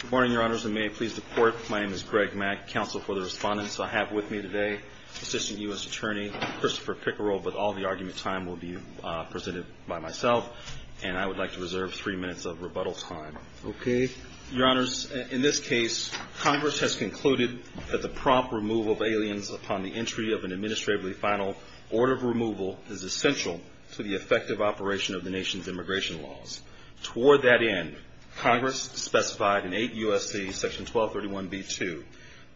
Good morning, Your Honors, and may it please the Court, my name is Greg Mack, Counsel for the Respondents. I have with me today Assistant U.S. Attorney Christopher Pickerell, but all of the argument time will be presented by myself, and I would like to reserve three minutes of rebuttal time. Okay. Your Honors, in this case, Congress has concluded that the prompt removal of aliens upon the entry of an administratively final order of removal is essential to the effective operation of the nation's immigration laws. Toward that end, Congress specified in 8 U.S.C. Section 1231b-2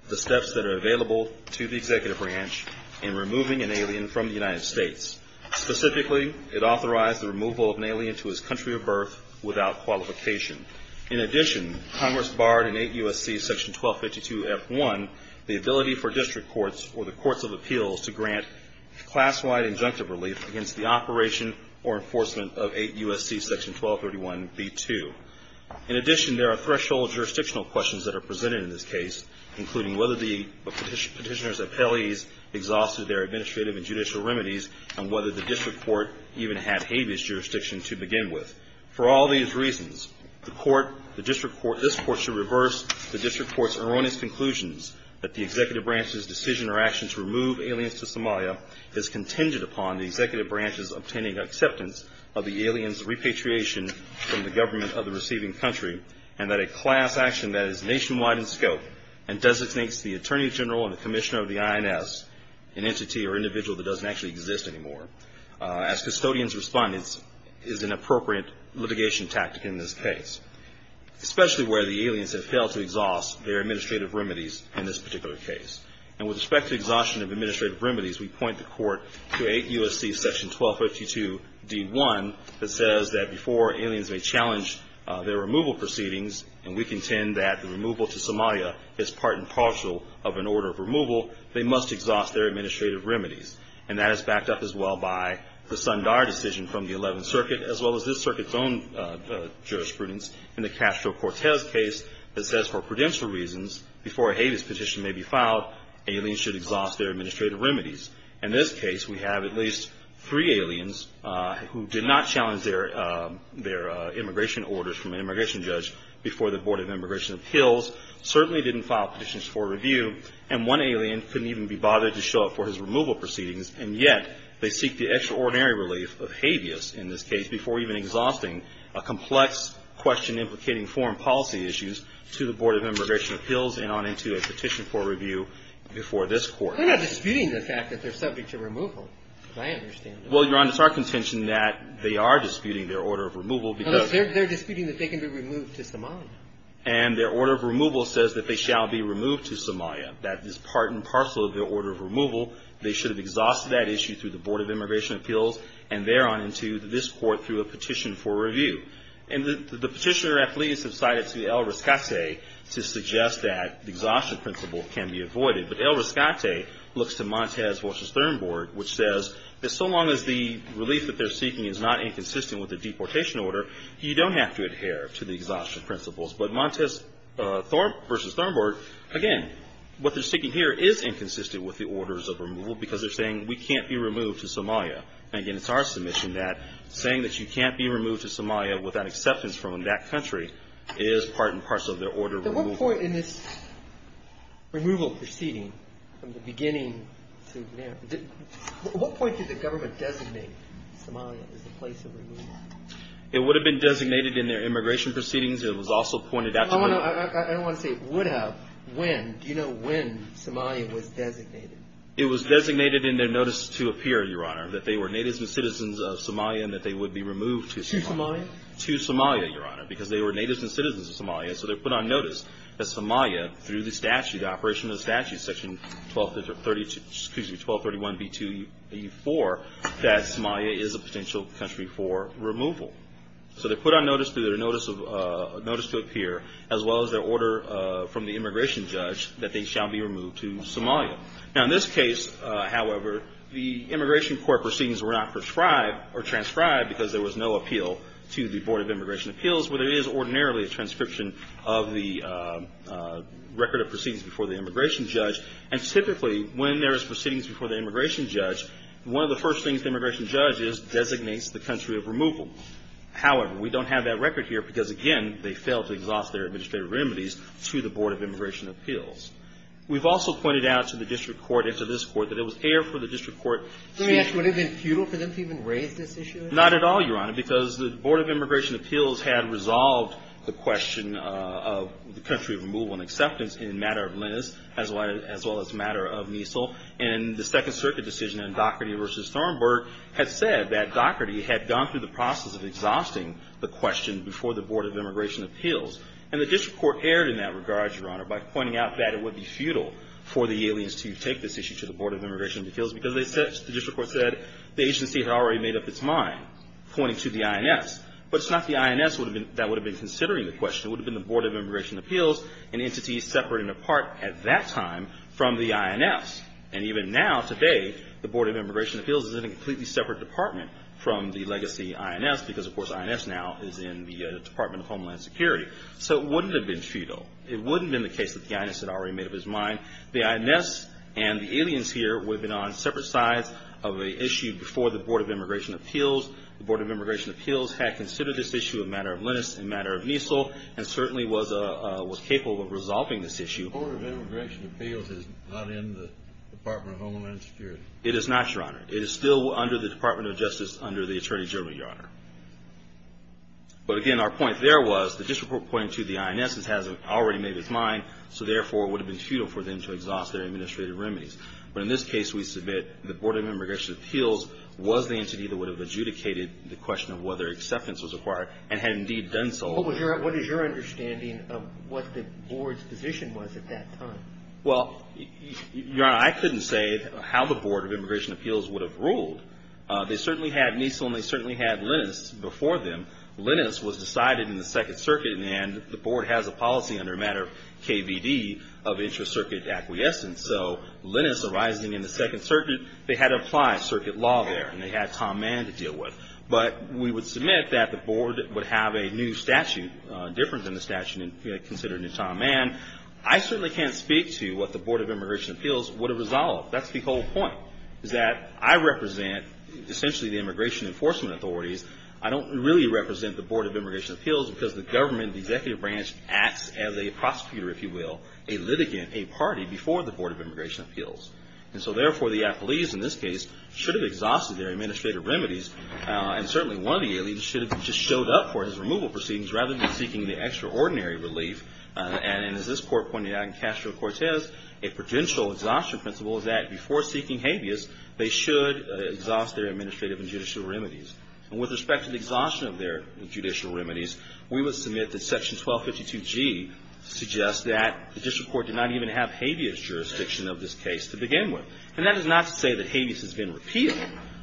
the steps that are available to the Executive Branch in removing an alien from the United States. Specifically, it authorized the removal of an alien to his country of birth without qualification. In addition, Congress barred in 8 U.S.C. Section 1252f-1 the ability for district courts or the courts of appeals to grant class-wide injunctive relief against the operation or enforcement of 8 U.S.C. Section 1231b-2. In addition, there are threshold jurisdictional questions that are presented in this case, including whether the petitioner's appellees exhausted their administrative and judicial remedies, and whether the district court even had habeas jurisdiction to begin with. For all these reasons, this Court should reverse the district court's erroneous conclusions that the Executive Branch's decision or action to remove aliens to Somalia is contingent upon the Executive Branch's obtaining acceptance of the aliens' repatriation from the government of the receiving country, and that a class action that is nationwide in scope and designates the Attorney General and the Commissioner of the INS an entity or individual that doesn't actually exist anymore. As custodians' respondents, it is an appropriate litigation tactic in this case, especially where the aliens have failed to exhaust their administrative remedies in this particular case. And with respect to exhaustion of administrative remedies, we point the Court to 8 U.S.C. Section 1252d-1 that says that before aliens may challenge their removal proceedings, and we contend that the removal to Somalia is part and parcel of an order of removal, they must exhaust their administrative remedies. And that is backed up as well by the Sundar decision from the 11th Circuit, as well as this Circuit's own jurisprudence in the Castro-Cortez case that says for prudential reasons, before a habeas petition may be filed, aliens should exhaust their administrative remedies. In this case, we have at least three aliens who did not challenge their immigration orders from an immigration judge before the Board of Immigration Appeals, certainly didn't file petitions for review, and one alien couldn't even be bothered to show up for his removal proceedings, and yet they seek the extraordinary relief of habeas in this case before even exhausting a complex question implicating foreign policy issues to the Board of Immigration Appeals and on into a petition for review before this Court. They're not disputing the fact that they're subject to removal, as I understand it. Well, Your Honor, it's our contention that they are disputing their order of removal because They're disputing that they can be removed to Somalia. And their order of removal says that they shall be removed to Somalia, that is part and parcel of their order of removal. They should have exhausted that issue through the Board of Immigration Appeals and there on into this Court through a petition for review. And the petitioner-athletes have cited to El Riscate to suggest that the exhaustion principle can be avoided. But El Riscate looks to Montez v. Thornburgh, which says that so long as the relief that they're seeking is not inconsistent with the deportation order, you don't have to adhere to the exhaustion principles. But Montez v. Thornburgh, again, what they're seeking here is inconsistent with the orders of removal because they're saying we can't be removed to Somalia. And again, it's our submission that saying that you can't be removed to Somalia without acceptance from that country is part and parcel of their order of removal. At what point in this removal proceeding, from the beginning to now, at what point did the government designate Somalia as the place of removal? It would have been designated in their immigration proceedings. It was also pointed out to me. I don't want to say would have. When? Do you know when Somalia was designated? It was designated in their notice to appear, Your Honor, that they were natives and citizens of Somalia and that they would be removed to Somalia. To Somalia? To Somalia, Your Honor, because they were natives and citizens of Somalia. So they're put on notice that Somalia, through the statute, the operation of the statute, section 1231B2E4, that Somalia is a potential country for removal. So they're put on notice through their notice to appear, as well as their order from the immigration judge that they shall be removed to Somalia. Now, in this case, however, the immigration court proceedings were not prescribed or transcribed because there was no appeal to the Board of Immigration Appeals, where there is ordinarily a transcription of the record of proceedings before the immigration judge. And typically, when there is proceedings before the immigration judge, one of the first things the immigration judge does is designates the country of removal. However, we don't have that record here because, again, they failed to exhaust their administrative remedies to the Board of Immigration Appeals. We've also pointed out to the district court and to this court that it was aired for the district court. Let me ask. Would it have been futile for them to even raise this issue? Not at all, Your Honor, because the Board of Immigration Appeals had resolved the question of the country of removal and acceptance in matter of Lennis, as well as matter of Measel. And the Second Circuit decision in Dougherty v. Thornburg had said that Dougherty had gone through the process of exhausting the question before the Board of Immigration Appeals. And the district court aired in that regard, Your Honor, by pointing out that it would be futile for the aliens to take this issue to the Board of Immigration Appeals because the district court said the agency had already made up its mind, pointing to the INS. But it's not the INS that would have been considering the question. It would have been the Board of Immigration Appeals, an entity separate and apart at that time from the INS. And even now, today, the Board of Immigration Appeals is in a completely separate department from the legacy INS because, of course, INS now is in the Department of Homeland Security. So it wouldn't have been futile. It wouldn't have been the case that the INS had already made up its mind. The INS and the aliens here would have been on separate sides of the issue before the Board of Immigration Appeals. The Board of Immigration Appeals had considered this issue in matter of Lennis and matter of Measel and certainly was capable of resolving this issue. The Board of Immigration Appeals is not in the Department of Homeland Security. It is not, Your Honor. It is still under the Department of Justice under the Attorney General, Your Honor. But again, our point there was the district reporting to the INS has already made its mind. So therefore, it would have been futile for them to exhaust their administrative remedies. But in this case, we submit the Board of Immigration Appeals was the entity that would have adjudicated the question of whether acceptance was required and had indeed done so. What is your understanding of what the Board's position was at that time? Well, Your Honor, I couldn't say how the Board of Immigration Appeals would have ruled. They certainly had Measel and they certainly had Lennis before them. Lennis was decided in the Second Circuit and the Board has a policy under matter of KVD of intra-circuit acquiescence. So Lennis arising in the Second Circuit, they had to apply circuit law there and they had Tom Mann to deal with. But we would submit that the Board would have a new statute, different than the statute considered in Tom Mann. I certainly can't speak to what the Board of Immigration Appeals would have resolved. That's the whole point is that I represent essentially the Immigration Enforcement Authorities. I don't really represent the Board of Immigration Appeals because the government, the executive branch, acts as a prosecutor, if you will, a litigant, a party before the Board of Immigration Appeals. And so therefore, the appellees in this case should have exhausted their administrative remedies. And certainly one of the aliens should have just showed up for his removal proceedings rather than seeking the extraordinary relief. And as this Court pointed out in Castro-Cortez, a prudential exhaustion principle is that before seeking habeas, they should exhaust their administrative and judicial remedies. And with respect to the exhaustion of their judicial remedies, we would submit that Section 1252G suggests that the district court did not even have habeas jurisdiction of this case to begin with. And that is not to say that habeas has been repealed.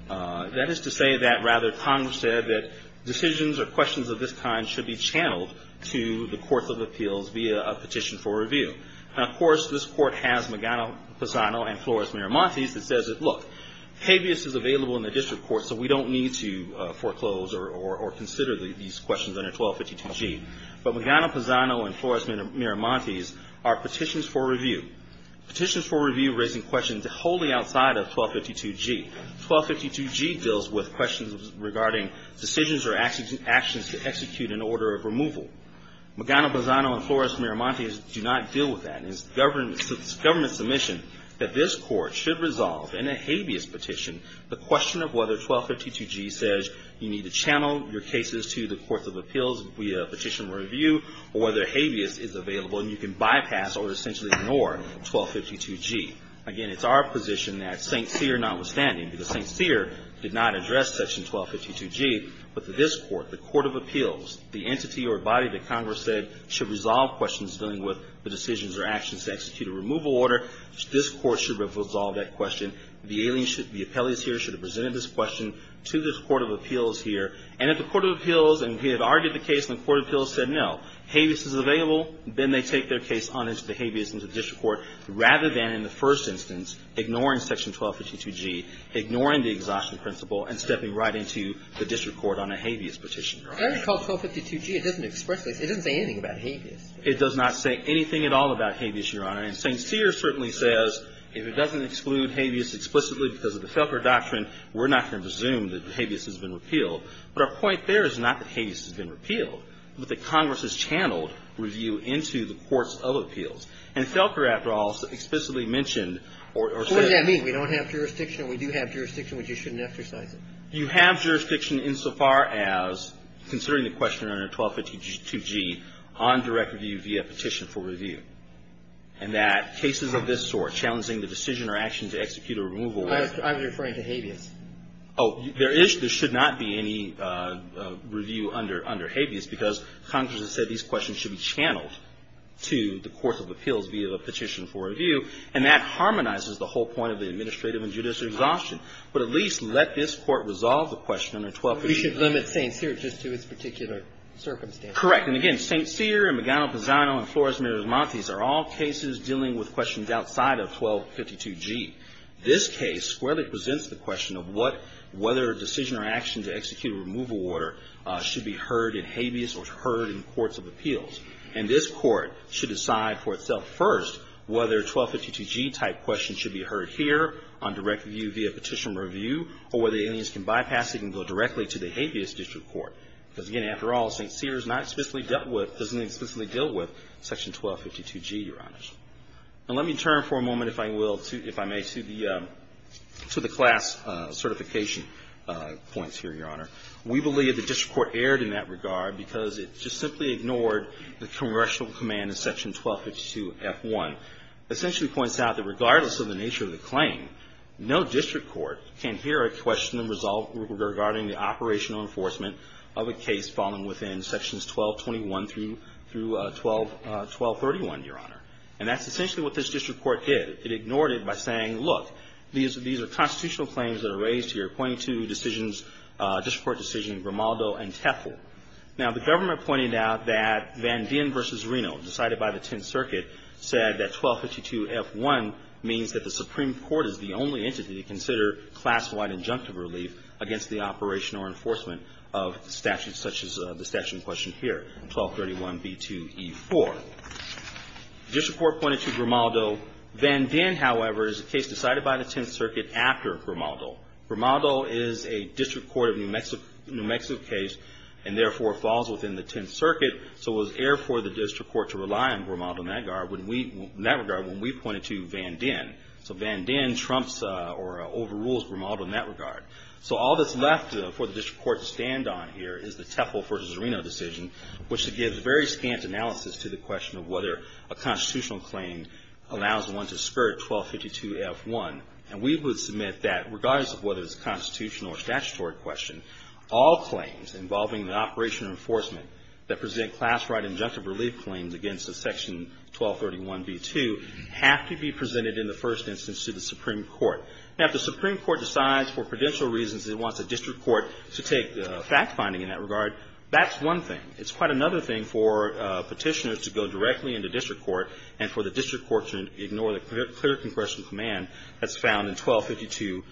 That is to say that rather Congress said that decisions or questions of this kind should be channeled to the courts of appeals via a petition for review. And of course, this Court has Magano-Pisano and Flores-Miramontes that says that, look, habeas is available in the district court, so we don't need to foreclose or consider these questions under 1252G. But Magano-Pisano and Flores-Miramontes are petitions for review, petitions for review raising questions wholly outside of 1252G. 1252G deals with questions regarding decisions or actions to execute an order of removal. Magano-Pisano and Flores-Miramontes do not deal with that. And it's the government's submission that this Court should resolve in a habeas petition the question of whether 1252G says you need to channel your cases to the courts of appeals via a petition for review or whether habeas is available and you can bypass or essentially ignore 1252G. Again, it's our position that St. Cyr notwithstanding, because St. Cyr did not address Section 1252G, but this Court, the Court of Appeals, the entity or body that Congress said should resolve questions dealing with the decisions or actions to execute a removal order, this Court should resolve that question. The appellees here should have presented this question to this Court of Appeals here. And if the Court of Appeals had argued the case and the Court of Appeals said no, habeas is available, then they take their case on into the habeas, into the district court, rather than in the first instance ignoring Section 1252G, ignoring the exhaustion principle and stepping right into the district court on a habeas petition. Sotomayor It's called 1252G. It doesn't express this. It doesn't say anything about habeas. It does not say anything at all about habeas, Your Honor. And St. Cyr certainly says if it doesn't exclude habeas explicitly because of the Felker doctrine, we're not going to presume that habeas has been repealed. But our point there is not that habeas has been repealed, but that Congress has channeled review into the courts of appeals. And Felker, after all, explicitly mentioned or said that we don't have jurisdiction, we do have jurisdiction, we just shouldn't exercise it. Elwood You have jurisdiction insofar as considering the question under 1252G on direct review via petition for review, and that cases of this sort, challenging the decision or action to execute a removal of the court of appeals. Sotomayor I was referring to habeas. Elwood Oh, there is. There should not be any review under habeas because Congress has said these questions should be channeled to the courts of appeals via the petition for review, and that should not be a disoption. But at least let this Court resolve the question under 1252G. Roberts We should limit St. Cyr just to its particular circumstance. Elwood Correct. And again, St. Cyr and Magano-Pisano and Flores-Miriamontes are all cases dealing with questions outside of 1252G. This case squarely presents the question of what – whether a decision or action to execute a removal order should be heard in habeas or heard in courts of appeals. And this Court should decide for itself first whether 1252G-type questions should be heard here on direct review via petition for review, or whether aliens can bypass it and go directly to the habeas district court. Because, again, after all, St. Cyr is not explicitly dealt with – doesn't explicitly deal with section 1252G, Your Honor. And let me turn for a moment, if I will, if I may, to the – to the class certification points here, Your Honor. We believe the district court erred in that regard because it just simply ignored the congressional command in section 1252F1. It essentially points out that regardless of the nature of the claim, no district court can hear a question in result regarding the operational enforcement of a case falling within sections 1221 through 1231, Your Honor. And that's essentially what this district court did. It ignored it by saying, look, these are constitutional claims that are raised here, pointing to decisions – district court decision Grimaldo and Tefel. Now, the government pointed out that Van Dien v. Reno, decided by the Tenth Circuit, said that 1252F1 means that the Supreme Court is the only entity to consider class-wide injunctive relief against the operational enforcement of statutes such as the statute in question here, 1231B2E4. The district court pointed to Grimaldo. Van Dien, however, is a case decided by the Tenth Circuit after Grimaldo. Grimaldo is a district court of New Mexico – New Mexico case and, therefore, falls within the Tenth Circuit. So it was air for the district court to rely on Grimaldo in that regard when we pointed to Van Dien. So Van Dien trumps or overrules Grimaldo in that regard. So all that's left for the district court to stand on here is the Tefel v. Reno decision, which gives very scant analysis to the question of whether a constitutional claim allows one to skirt 1252F1. And we would submit that, regardless of whether it's a constitutional or statutory question, all claims involving the operational enforcement that present class-wide injunctive relief claims against Section 1231B2 have to be presented in the first instance to the Supreme Court. Now, if the Supreme Court decides for prudential reasons it wants a district court to take fact-finding in that regard, that's one thing. It's quite another thing for Petitioners to go directly into district court and for the district court to ignore the clear congressional command that's found in 1252F1.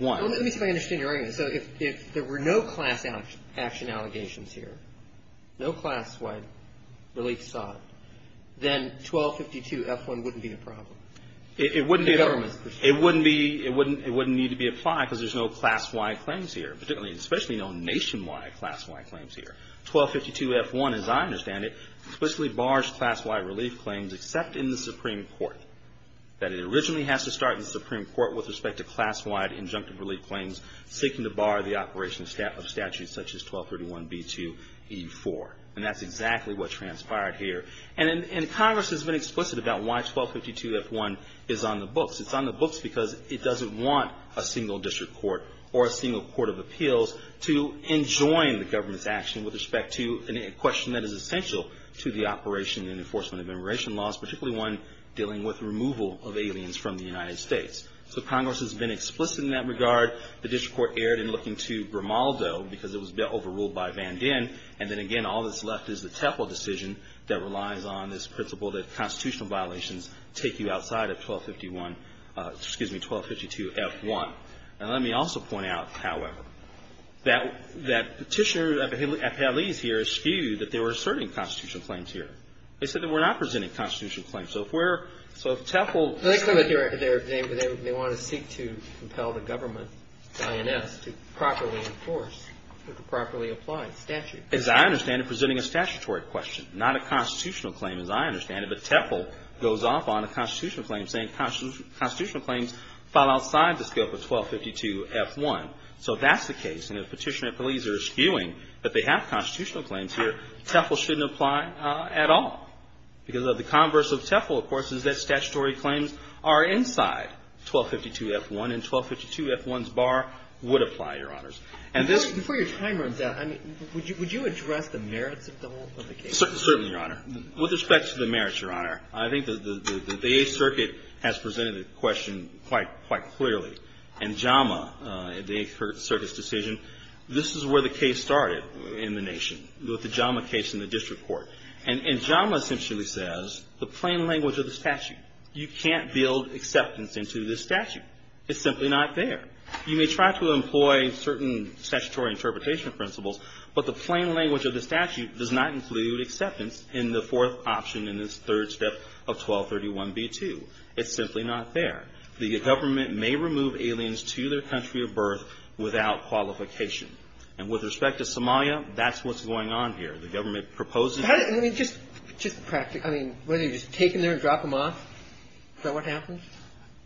Let me see if I understand your argument. So if there were no class action allegations here, no class-wide relief sought, then 1252F1 wouldn't be a problem? It wouldn't be. It wouldn't be. It wouldn't need to be applied because there's no class-wide claims here, particularly and especially no nationwide class-wide claims here. 1252F1, as I understand it, explicitly bars class-wide relief claims except in the Supreme Court. And that's exactly what transpired here. And Congress has been explicit about why 1252F1 is on the books. It's on the books because it doesn't want a single district court or a single court of appeals to enjoin the government's action with respect to a question that is essential to the operation and enforcement of immigration laws, particularly one dealing with removal of aliens from the United States. So Congress has been explicit in that regard. The district court erred in looking to Grimaldo because it was overruled by Van Dihn. And then, again, all that's left is the Tefl decision that relies on this principle that constitutional violations take you outside of 1251 — excuse me, 1252F1. Now, let me also point out, however, that Petitioner at Palais here skewed that they were asserting constitutional claims here. They said that we're not presenting constitutional claims. So if we're — so if Tefl — They want to seek to compel the government, DINS, to properly enforce, to properly apply statute. As I understand it, presenting a statutory question, not a constitutional claim, as I understand it. But Tefl goes off on a constitutional claim, saying constitutional claims fall outside the scope of 1252F1. So that's the case. And if Petitioner at Palais are skewing that they have constitutional claims here, are inside 1252F1, and 1252F1's bar would apply, Your Honors. And this — Before your time runs out, I mean, would you address the merits of the whole of the case? Certainly, Your Honor. With respect to the merits, Your Honor, I think that the Eighth Circuit has presented the question quite — quite clearly. In JAMA, the Eighth Circuit's decision, this is where the case started in the nation, with the JAMA case in the district court. And JAMA essentially says, the plain language of the statute, you can't build acceptance into this statute. It's simply not there. You may try to employ certain statutory interpretation principles, but the plain language of the statute does not include acceptance in the fourth option in this third step of 1231B2. It's simply not there. The government may remove aliens to their country of birth without qualification. And with respect to Somalia, that's what's going on here. The government proposes — How does — I mean, just — just practically. I mean, whether you just take them there and drop them off, is that what happens?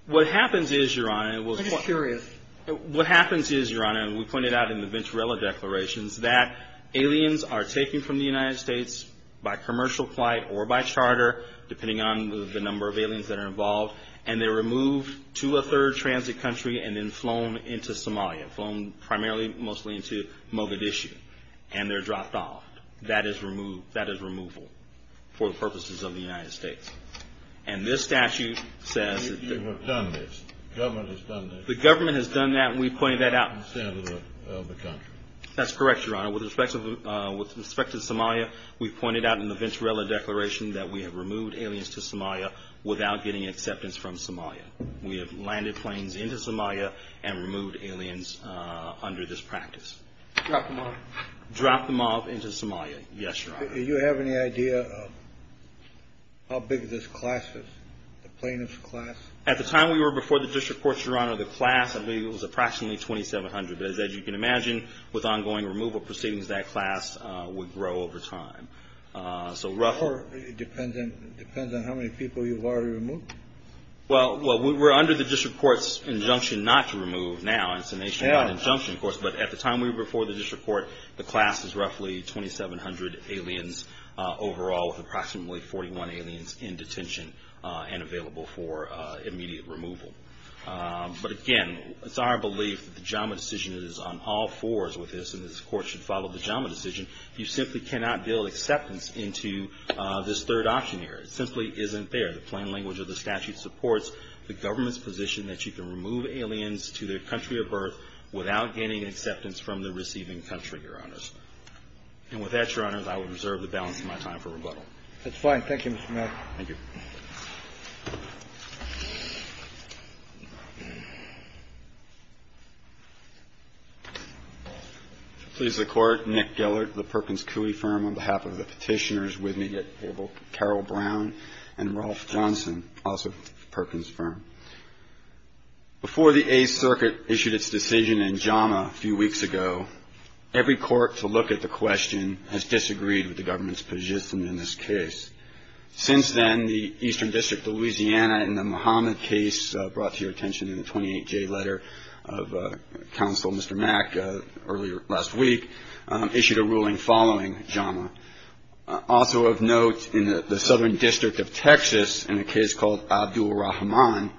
What happens is, Your Honor — I'm just curious. What happens is, Your Honor, and we pointed out in the Venturella declarations, that aliens are taken from the United States by commercial flight or by charter, depending on the number of aliens that are involved. And they're removed to a third transit country and then flown into Somalia, flown primarily mostly into Mogadishu. And they're dropped off. That is removed — that is removal for the purposes of the United States. And this statute says — But you have done this. The government has done this. The government has done that, and we pointed that out — In the standard of the country. That's correct, Your Honor. With respect to Somalia, we pointed out in the Venturella declaration that we have removed aliens to Somalia without getting acceptance from Somalia. We have landed planes into Somalia and removed aliens under this practice. Drop them off. Drop them off into Somalia. Yes, Your Honor. Do you have any idea of how big this class is? The plaintiff's class? At the time we were before the district courts, Your Honor, the class of aliens was approximately 2,700. As you can imagine, with ongoing removal proceedings, that class would grow over time. So roughly — It depends on how many people you've already removed? Well, we're under the district court's injunction not to remove now. It's a nationwide injunction, of course. But at the time we were before the district court, the class is roughly 2,700 aliens overall, with approximately 41 aliens in detention and available for immediate removal. But again, it's our belief that the JAMA decision is on all fours with this, and this Court should follow the JAMA decision. You simply cannot build acceptance into this third option here. It simply isn't there. The plain language of the statute supports the government's position that you can remove aliens to their country of birth without gaining acceptance from the receiving country, Your Honors. And with that, Your Honors, I will reserve the balance of my time for rebuttal. That's fine. Thank you, Mr. Maddox. Thank you. Please, the Court. Nick Gellert, the Perkins Coie firm. On behalf of the Petitioners with me at table, Carol Brown and Ralph Johnson, also Perkins firm. Before the Eighth Circuit issued its decision in JAMA a few weeks ago, every court to look at the question has disagreed with the government's position in this case. Since then, the Eastern District of Louisiana in the Muhammad case, brought to your attention in the 28-J letter of Counsel Mr. Mack earlier last week, issued a ruling following JAMA. Also of note, in the Southern District of Texas, in a case called Abdulrahman,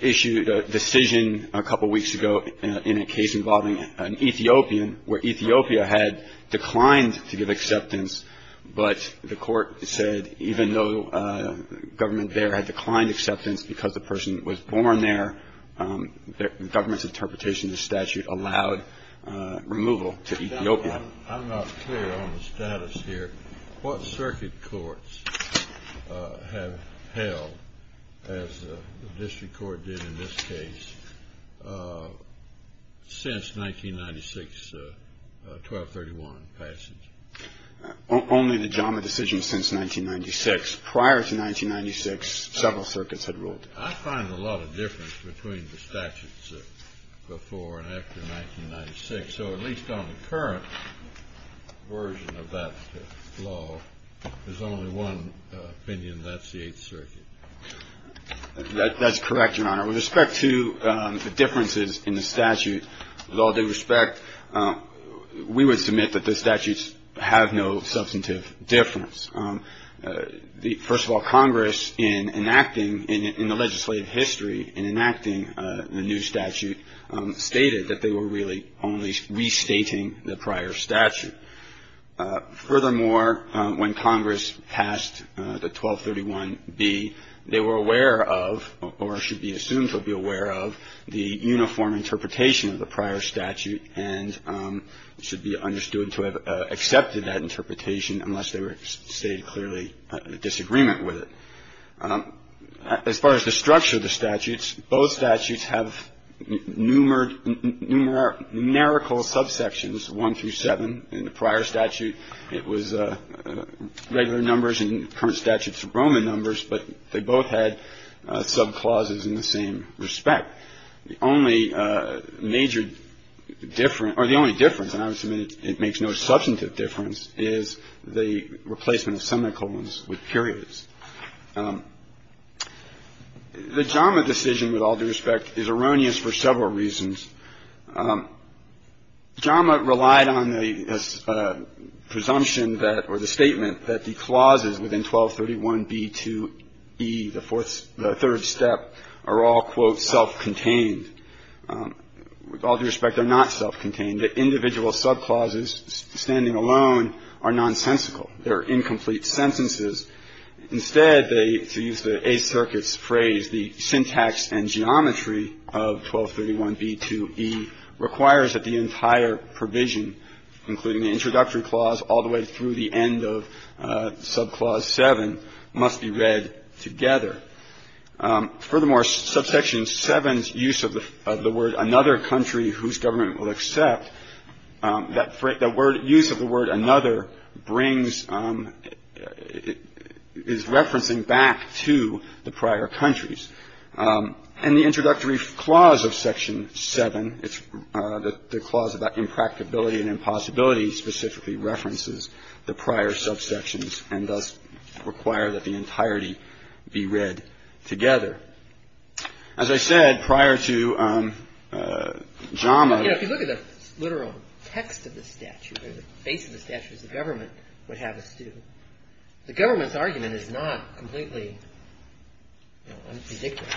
issued a decision a couple weeks ago in a case involving an Ethiopian where Ethiopia had declined to give acceptance, but the court said even though government there had declined acceptance because the person was born there, the government's interpretation of the statute allowed removal to Ethiopia. I'm not clear on the status here. What circuit courts have held, as the district court did in this case, since 1996-1231 passage? Only the JAMA decision since 1996. Prior to 1996, several circuits had ruled. I find a lot of difference between the statutes before and after 1996. So at least on the current version of that law, there's only one opinion. That's the Eighth Circuit. That's correct, Your Honor. With respect to the differences in the statute, with all due respect, we would submit that the statutes have no substantive difference. First of all, Congress, in enacting, in the legislative history, in enacting the new statute, stated that they were really only restating the prior statute. Furthermore, when Congress passed the 1231B, they were aware of, or should be assumed to be aware of the uniform interpretation of the prior statute and should be understood to have accepted that interpretation unless they were stated clearly in disagreement with it. As far as the structure of the statutes, both statutes have numerical subsections, one through seven. In the prior statute, it was regular numbers. In the current statutes, Roman numbers. But they both had subclauses in the same respect. The only major difference, or the only difference, and I would submit it makes no substantive difference, is the replacement of semicolons with periods. The JAMA decision, with all due respect, is erroneous for several reasons. JAMA relied on the presumption that, or the statement that the clauses within 1231B2E, the third step, are all, quote, self-contained. With all due respect, they're not self-contained. The individual subclauses, standing alone, are nonsensical. They're incomplete sentences. Instead, they, to use the Eighth Circuit's phrase, the syntax and geometry of 1231B2E requires that the entire provision, including the introductory clause all the way through the end of subclause seven, must be read together. Furthermore, subsection seven's use of the word another country whose government will accept, that use of the word another brings, is referencing back to the prior countries. And the introductory clause of section seven, the clause about impracticability and impossibility specifically references the prior subsections and thus require that the entirety be read together. As I said, prior to JAMA ---- Kagan. You know, if you look at the literal text of the statute, or the face of the statute, as the government would have us do, the government's argument is not completely ridiculous.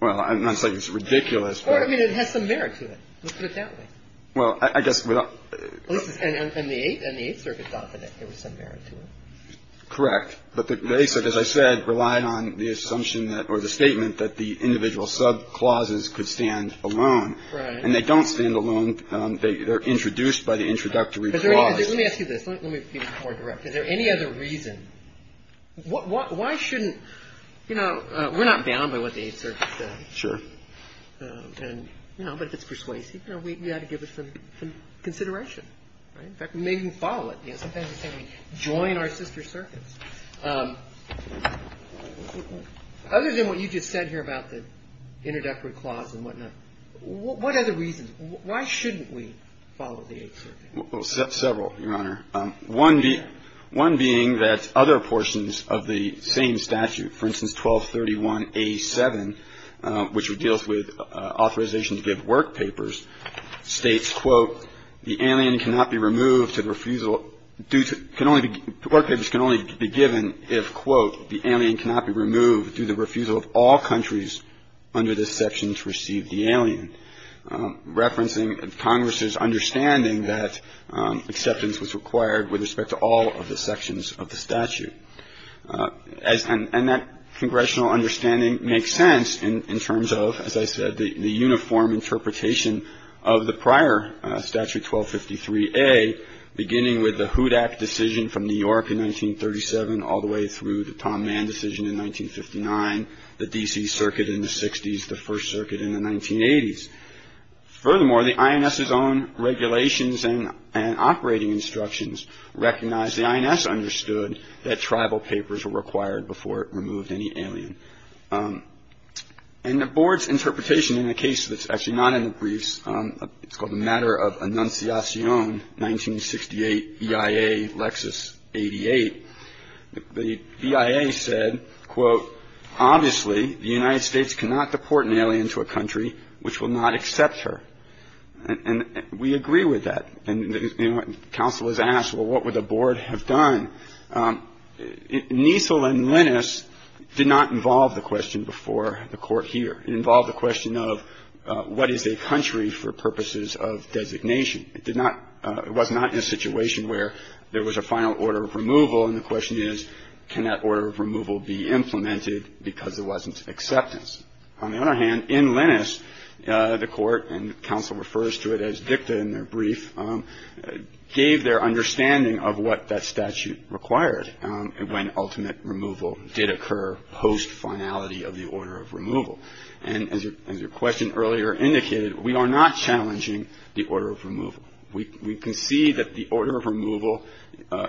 Well, I'm not saying it's ridiculous, but ---- Well, I guess without ---- And the Eighth Circuit thought that there was some merit to it. Correct. But the Eighth Circuit, as I said, relied on the assumption that or the statement that the individual subclauses could stand alone. Right. And they don't stand alone. They're introduced by the introductory clause. Let me ask you this. Let me be more direct. Is there any other reason? Why shouldn't, you know, we're not bound by what the Eighth Circuit says. Sure. And, you know, but if it's persuasive, you know, we've got to give it some consideration. Right? In fact, we may even follow it. Sometimes they say we join our sister circuits. Other than what you just said here about the introductory clause and whatnot, what other reasons? Why shouldn't we follow the Eighth Circuit? Well, several, Your Honor. One being that other portions of the same statute, for instance, 1231A7, which would deal with authorization to give work papers, states, quote, the alien cannot be removed to the refusal due to can only be work papers can only be given if, quote, the alien cannot be removed due to refusal of all countries under this section to receive the alien. Referencing Congress's understanding that acceptance was required with respect to all of the sections of the statute. And that congressional understanding makes sense in terms of, as I said, the uniform interpretation of the prior statute, 1253A, beginning with the HUDAC decision from New York in 1937 all the way through the Tom Mann decision in 1959, the D.C. Circuit in the 60s, the First Circuit in the 1980s. Furthermore, the INS's own regulations and operating instructions recognize the INS understood that tribal papers were required before it removed any alien. And the board's interpretation in a case that's actually not in the briefs, it's called the Matter of Annunciation, 1968, EIA, Lexus 88. The EIA said, quote, obviously the United States cannot deport an alien to a country which will not accept her. And we agree with that. And counsel has asked, well, what would the board have done? Niesel and Linus did not involve the question before the Court here. It involved the question of what is a country for purposes of designation. It did not – it was not in a situation where there was a final order of removal, and the question is can that order of removal be implemented because there wasn't acceptance. On the other hand, in Linus, the Court, and counsel refers to it as dicta in their brief, gave their understanding of what that statute required when ultimate removal did occur post-finality of the order of removal. And as your question earlier indicated, we are not challenging the order of removal. We concede that the order of removal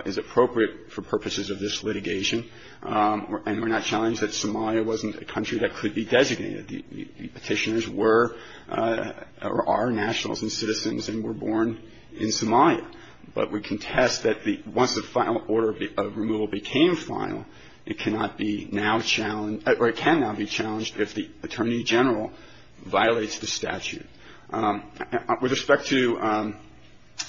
is appropriate for purposes of this litigation, and we're not challenged that Somalia wasn't a country that could be designated. The petitioners were or are nationals and citizens and were born in Somalia. But we contest that once the final order of removal became final, it cannot be now challenged or it can now be challenged if the attorney general violates the statute. With respect to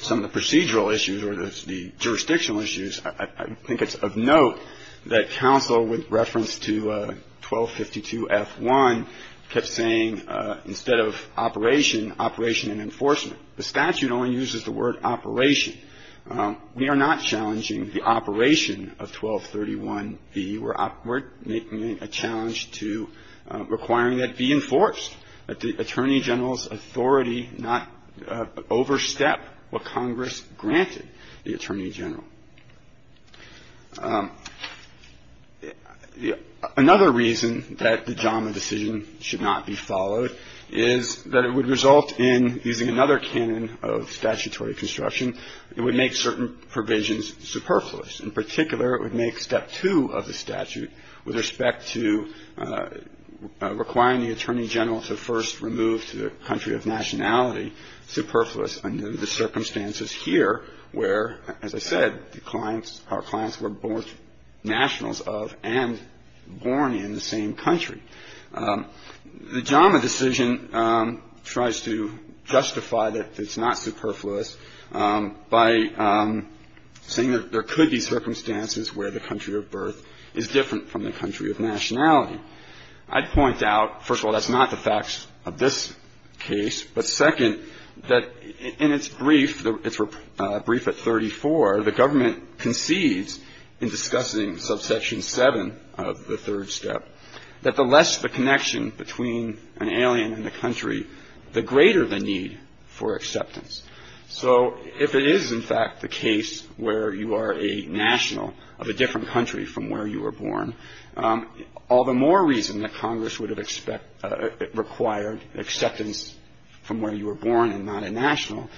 some of the procedural issues or the jurisdictional issues, I think it's of note that counsel, with reference to 1252F1, kept saying instead of operation, operation and enforcement. The statute only uses the word operation. We are not challenging the operation of 1231B. We're making a challenge to requiring that be enforced, that the attorney general's authority not overstep what Congress granted the attorney general. Another reason that the JAMA decision should not be followed is that it would result in using another canon of statutory construction. It would make certain provisions superfluous. In particular, it would make Step 2 of the statute, with respect to requiring the attorney general to first remove to the country of nationality, superfluous under the circumstances here where, as I said, the clients, our clients were born nationals of and born in the same country. The JAMA decision tries to justify that it's not superfluous by saying that there could be circumstances where the country of birth is different from the country of nationality. I'd point out, first of all, that's not the facts of this case. But, second, that in its brief, its brief at 34, the government concedes in discussing subsection 7 of the third step, that the less the connection between an alien and the country, the greater the need for acceptance. So if it is, in fact, the case where you are a national of a different country from where you were born, all the more reason that Congress would have expect or required acceptance from where you were born and not a national,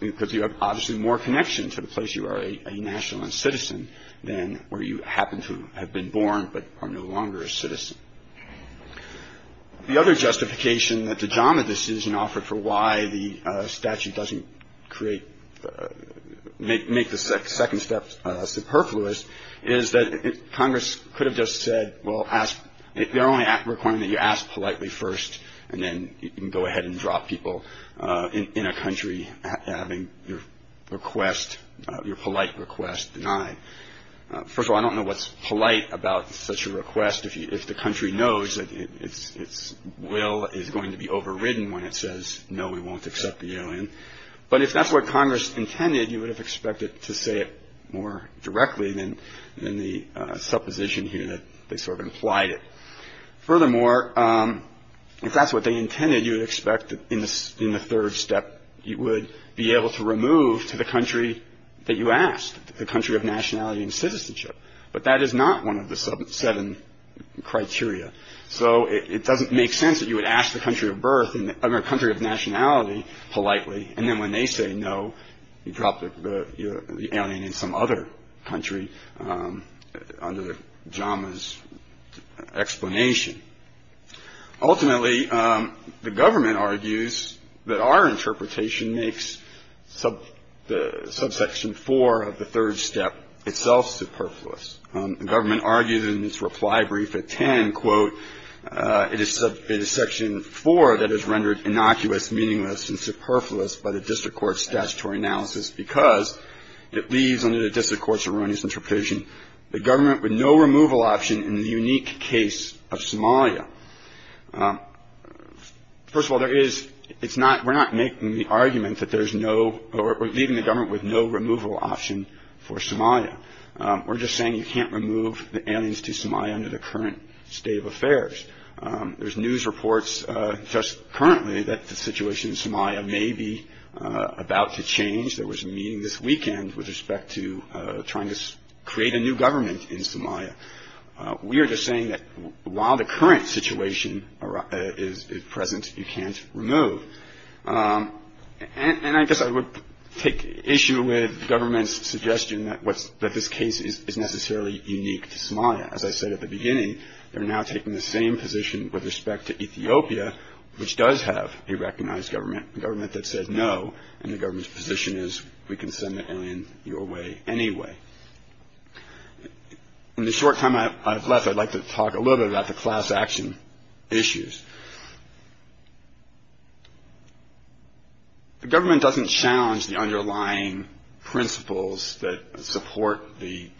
because you have obviously more connection to the place you are a national and citizen than where you happen to have been born but are no longer a citizen. The other justification that the JAMA decision offered for why the statute doesn't create, make the second step superfluous is that Congress could have just said, well, ask. They're only requiring that you ask politely first, and then you can go ahead and drop people in a country having your request, your polite request denied. First of all, I don't know what's polite about such a request. If the country knows that its will is going to be overridden when it says, no, we won't accept the alien. But if that's what Congress intended, you would have expected to say it more directly than the supposition here that they sort of implied it. Furthermore, if that's what they intended, you would expect in the third step, you would be able to remove to the country that you asked, the country of nationality and citizenship. But that is not one of the seven criteria. So it doesn't make sense that you would ask the country of birth in a country of nationality politely. And then when they say no, you drop the alien in some other country under the JAMA's explanation. Ultimately, the government argues that our interpretation makes the subsection four of the third step itself superfluous. The government argues in its reply brief at 10, quote, it is section four that is rendered innocuous, meaningless, and superfluous by the district court's statutory analysis because it leaves under the district court's erroneous interpretation the government with no removal option in the unique case of Somalia. First of all, there is – it's not – we're not making the argument that there's no – or leaving the government with no removal option for Somalia. We're just saying you can't remove the aliens to Somalia under the current state of affairs. There's news reports just currently that the situation in Somalia may be about to change. There was a meeting this weekend with respect to trying to create a new government in Somalia. We are just saying that while the current situation is present, you can't remove. And I guess I would take issue with the government's suggestion that this case is necessarily unique to Somalia. As I said at the beginning, they're now taking the same position with respect to Ethiopia, which does have a recognized government, a government that said no, and the government's position is we can send the alien your way anyway. In the short time I've left, I'd like to talk a little bit about the class action issues. The government doesn't challenge the underlying principles that support the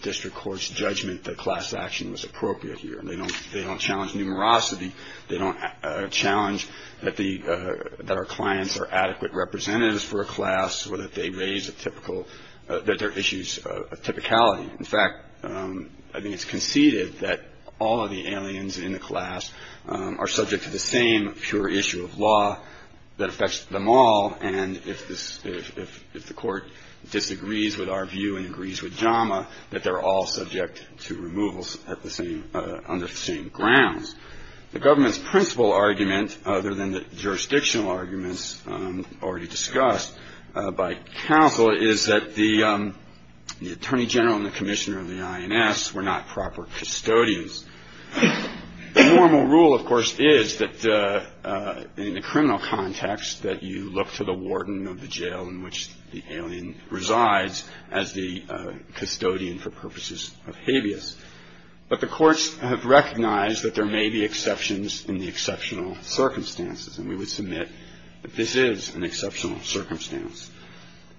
district court's judgment that class action was appropriate here. They don't challenge numerosity. They don't challenge that our clients are adequate representatives for a class or that they raise issues of typicality. In fact, I think it's conceded that all of the aliens in the class are subject to the same pure issue of law that affects them all, and if the court disagrees with our view and agrees with JAMA, that they're all subject to removals under the same grounds. The government's principal argument, other than the jurisdictional arguments already discussed, by counsel is that the attorney general and the commissioner of the INS were not proper custodians. The normal rule, of course, is that in the criminal context that you look to the warden of the jail in which the alien resides as the custodian for purposes of habeas, but the courts have recognized that there may be exceptions in the exceptional circumstances, and we would submit that this is an exceptional circumstance.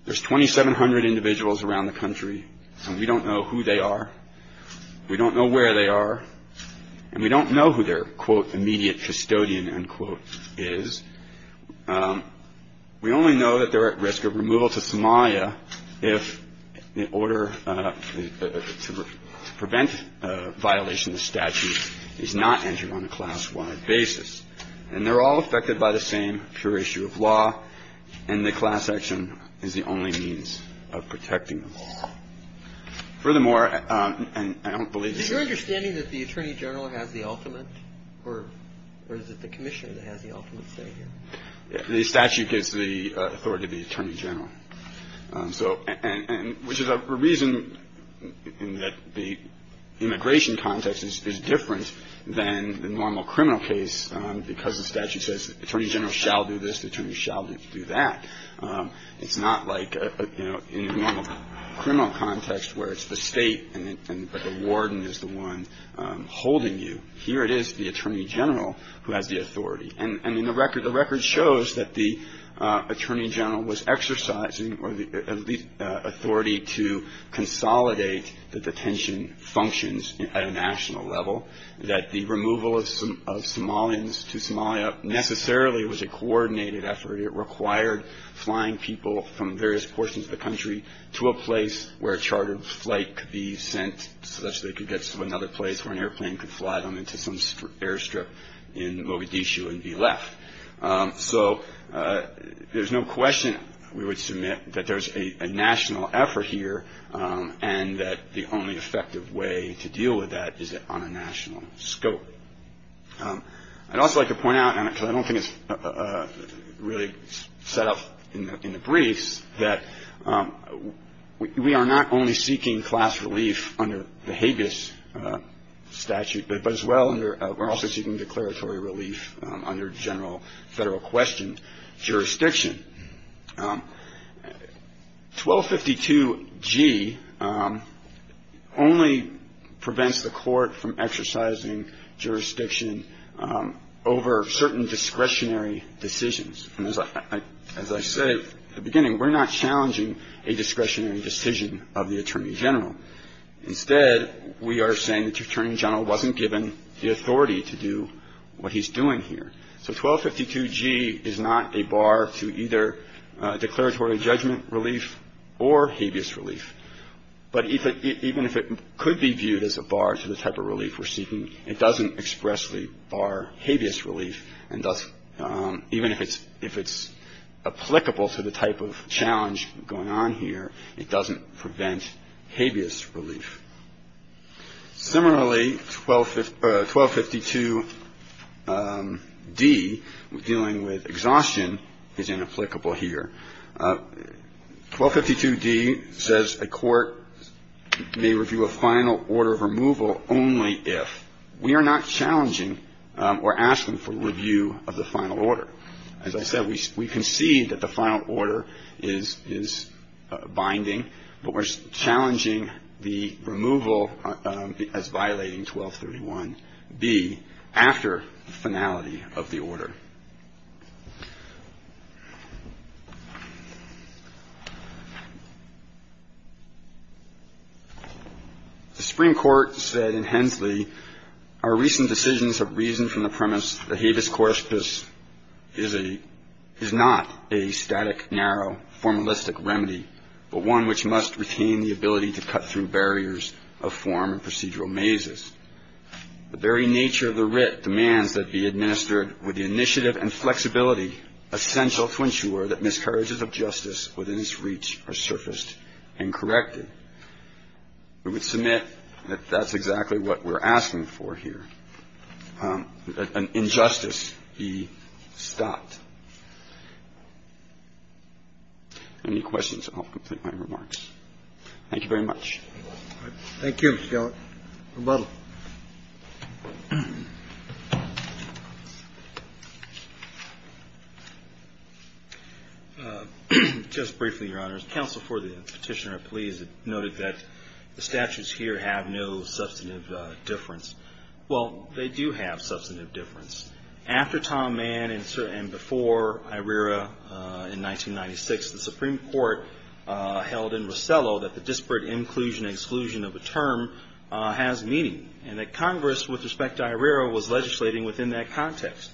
There's 2,700 individuals around the country, and we don't know who they are. We don't know where they are, and we don't know who their, quote, immediate custodian, unquote, is. We only know that they're at risk of removal to Somalia if the order to prevent violation of statute is not entered on a class-wide basis, and they're all affected by the same pure issue of law, and the class action is the only means of protecting them. Furthermore, and I don't believe that the attorney general has the ultimate, or is it the commissioner that has the ultimate say here? The statute gives the authority to the attorney general. So, and which is a reason in that the immigration context is different than the normal criminal case because the statute says the attorney general shall do this, the attorney general shall do that. It's not like, you know, in the normal criminal context where it's the state and the warden is the one holding you. Here it is the attorney general who has the authority, and the record shows that the attorney general was exercising authority to consolidate the detention functions at a national level, that the removal of Somalians to Somalia necessarily was a coordinated effort. It required flying people from various portions of the country to a place where a chartered flight could be sent such that they could get to another place where an airplane could fly them into some airstrip in Mogadishu and be left. So there's no question we would submit that there's a national effort here and that the only effective way to deal with that is on a national scope. I'd also like to point out, because I don't think it's really set up in the briefs, that we are not only seeking class relief under the habeas statute, but as well under we're also seeking declaratory relief under general federal question jurisdiction. 1252G only prevents the court from exercising jurisdiction over certain discretionary decisions. And as I said at the beginning, we're not challenging a discretionary decision of the attorney general. Instead, we are saying that the attorney general wasn't given the authority to do what he's doing here. So 1252G is not a bar to either declaratory judgment relief or habeas relief. But even if it could be viewed as a bar to the type of relief we're seeking, it doesn't expressly bar habeas relief. And even if it's applicable to the type of challenge going on here, it doesn't prevent habeas relief. Similarly, 1252D, dealing with exhaustion, is inapplicable here. 1252D says a court may review a final order of removal only if we are not challenging or asking for review of the final order. As I said, we concede that the final order is binding, but we're challenging the removal as violating 1231B after the finality of the order. The Supreme Court said in Hensley, our recent decisions have reasoned from the premise that habeas corpus is a – is not a static, narrow, formalistic remedy, but one which must retain the ability to cut through barriers of form and procedural mazes. The very nature of the writ demands that be administered with the initiative and flexibility essential to ensure that miscarriages of justice within its reach are surfaced and corrected. We would submit that that's exactly what we're asking for here, that an injustice be stopped. Any questions? I'll complete my remarks. Thank you very much. Thank you, Your Honor. Rebuttal. Just briefly, Your Honor, as counsel for the petitioner, I'm pleased to note that the statutes here have no substantive difference. Well, they do have substantive difference. After Tom Mann and before Irira in 1996, the Supreme Court held in Rosello that the disparate inclusion and exclusion of a term has meaning and that Congress, with respect to Irira, was legislating within that context.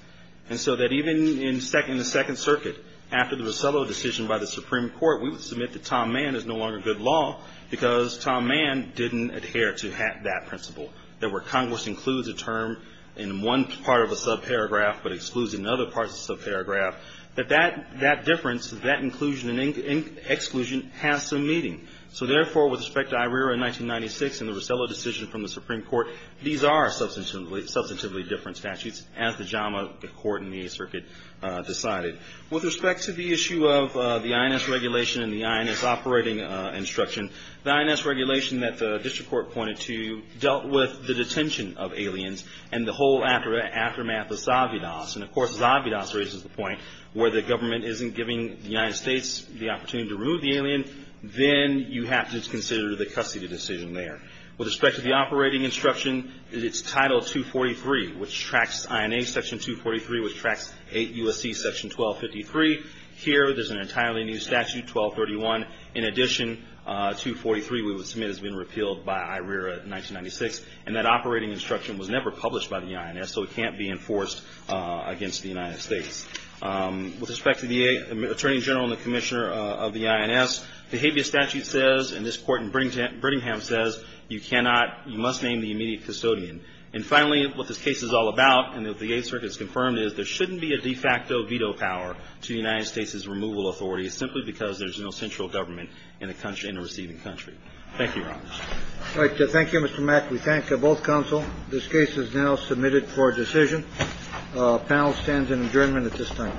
And so that even in the Second Circuit, after the Rosello decision by the Supreme Court, we would submit that Tom Mann is no longer good law because Tom Mann didn't adhere to that principle, that where Congress includes a term in one part of a subparagraph but excludes it in other parts of the subparagraph, that that difference, that inclusion and exclusion has some meaning. So therefore, with respect to Irira in 1996 and the Rosello decision from the Supreme Court, these are substantively different statutes as the JAMA Court in the Eighth Circuit decided. With respect to the issue of the INS regulation and the INS operating instruction, the INS regulation that the district court pointed to dealt with the detention of aliens and the whole aftermath of Zavidas. And of course, Zavidas raises the point where the government isn't giving the United States the opportunity to remove the alien, then you have to consider the custody decision there. With respect to the operating instruction, it's Title 243, which tracks INA Section 243, which tracks 8 U.S.C. Section 1253. Here, there's an entirely new statute, 1231. In addition, 243 we would submit has been repealed by Irira in 1996, and that operating instruction was never published by the INS, so it can't be enforced against the United States. With respect to the Attorney General and the Commissioner of the INS, the habeas statute says, and this Court in Brittingham says, you cannot, you must name the immediate custodian. And finally, what this case is all about, and that the Eighth Circuit has confirmed, is there shouldn't be a de facto veto power to the United States' removal authority simply because there's no central government in a receiving country. Thank you, Your Honor. All right. Thank you, Mr. Mack. We thank both counsel. This case is now submitted for decision. The panel stands in adjournment at this time. All rise.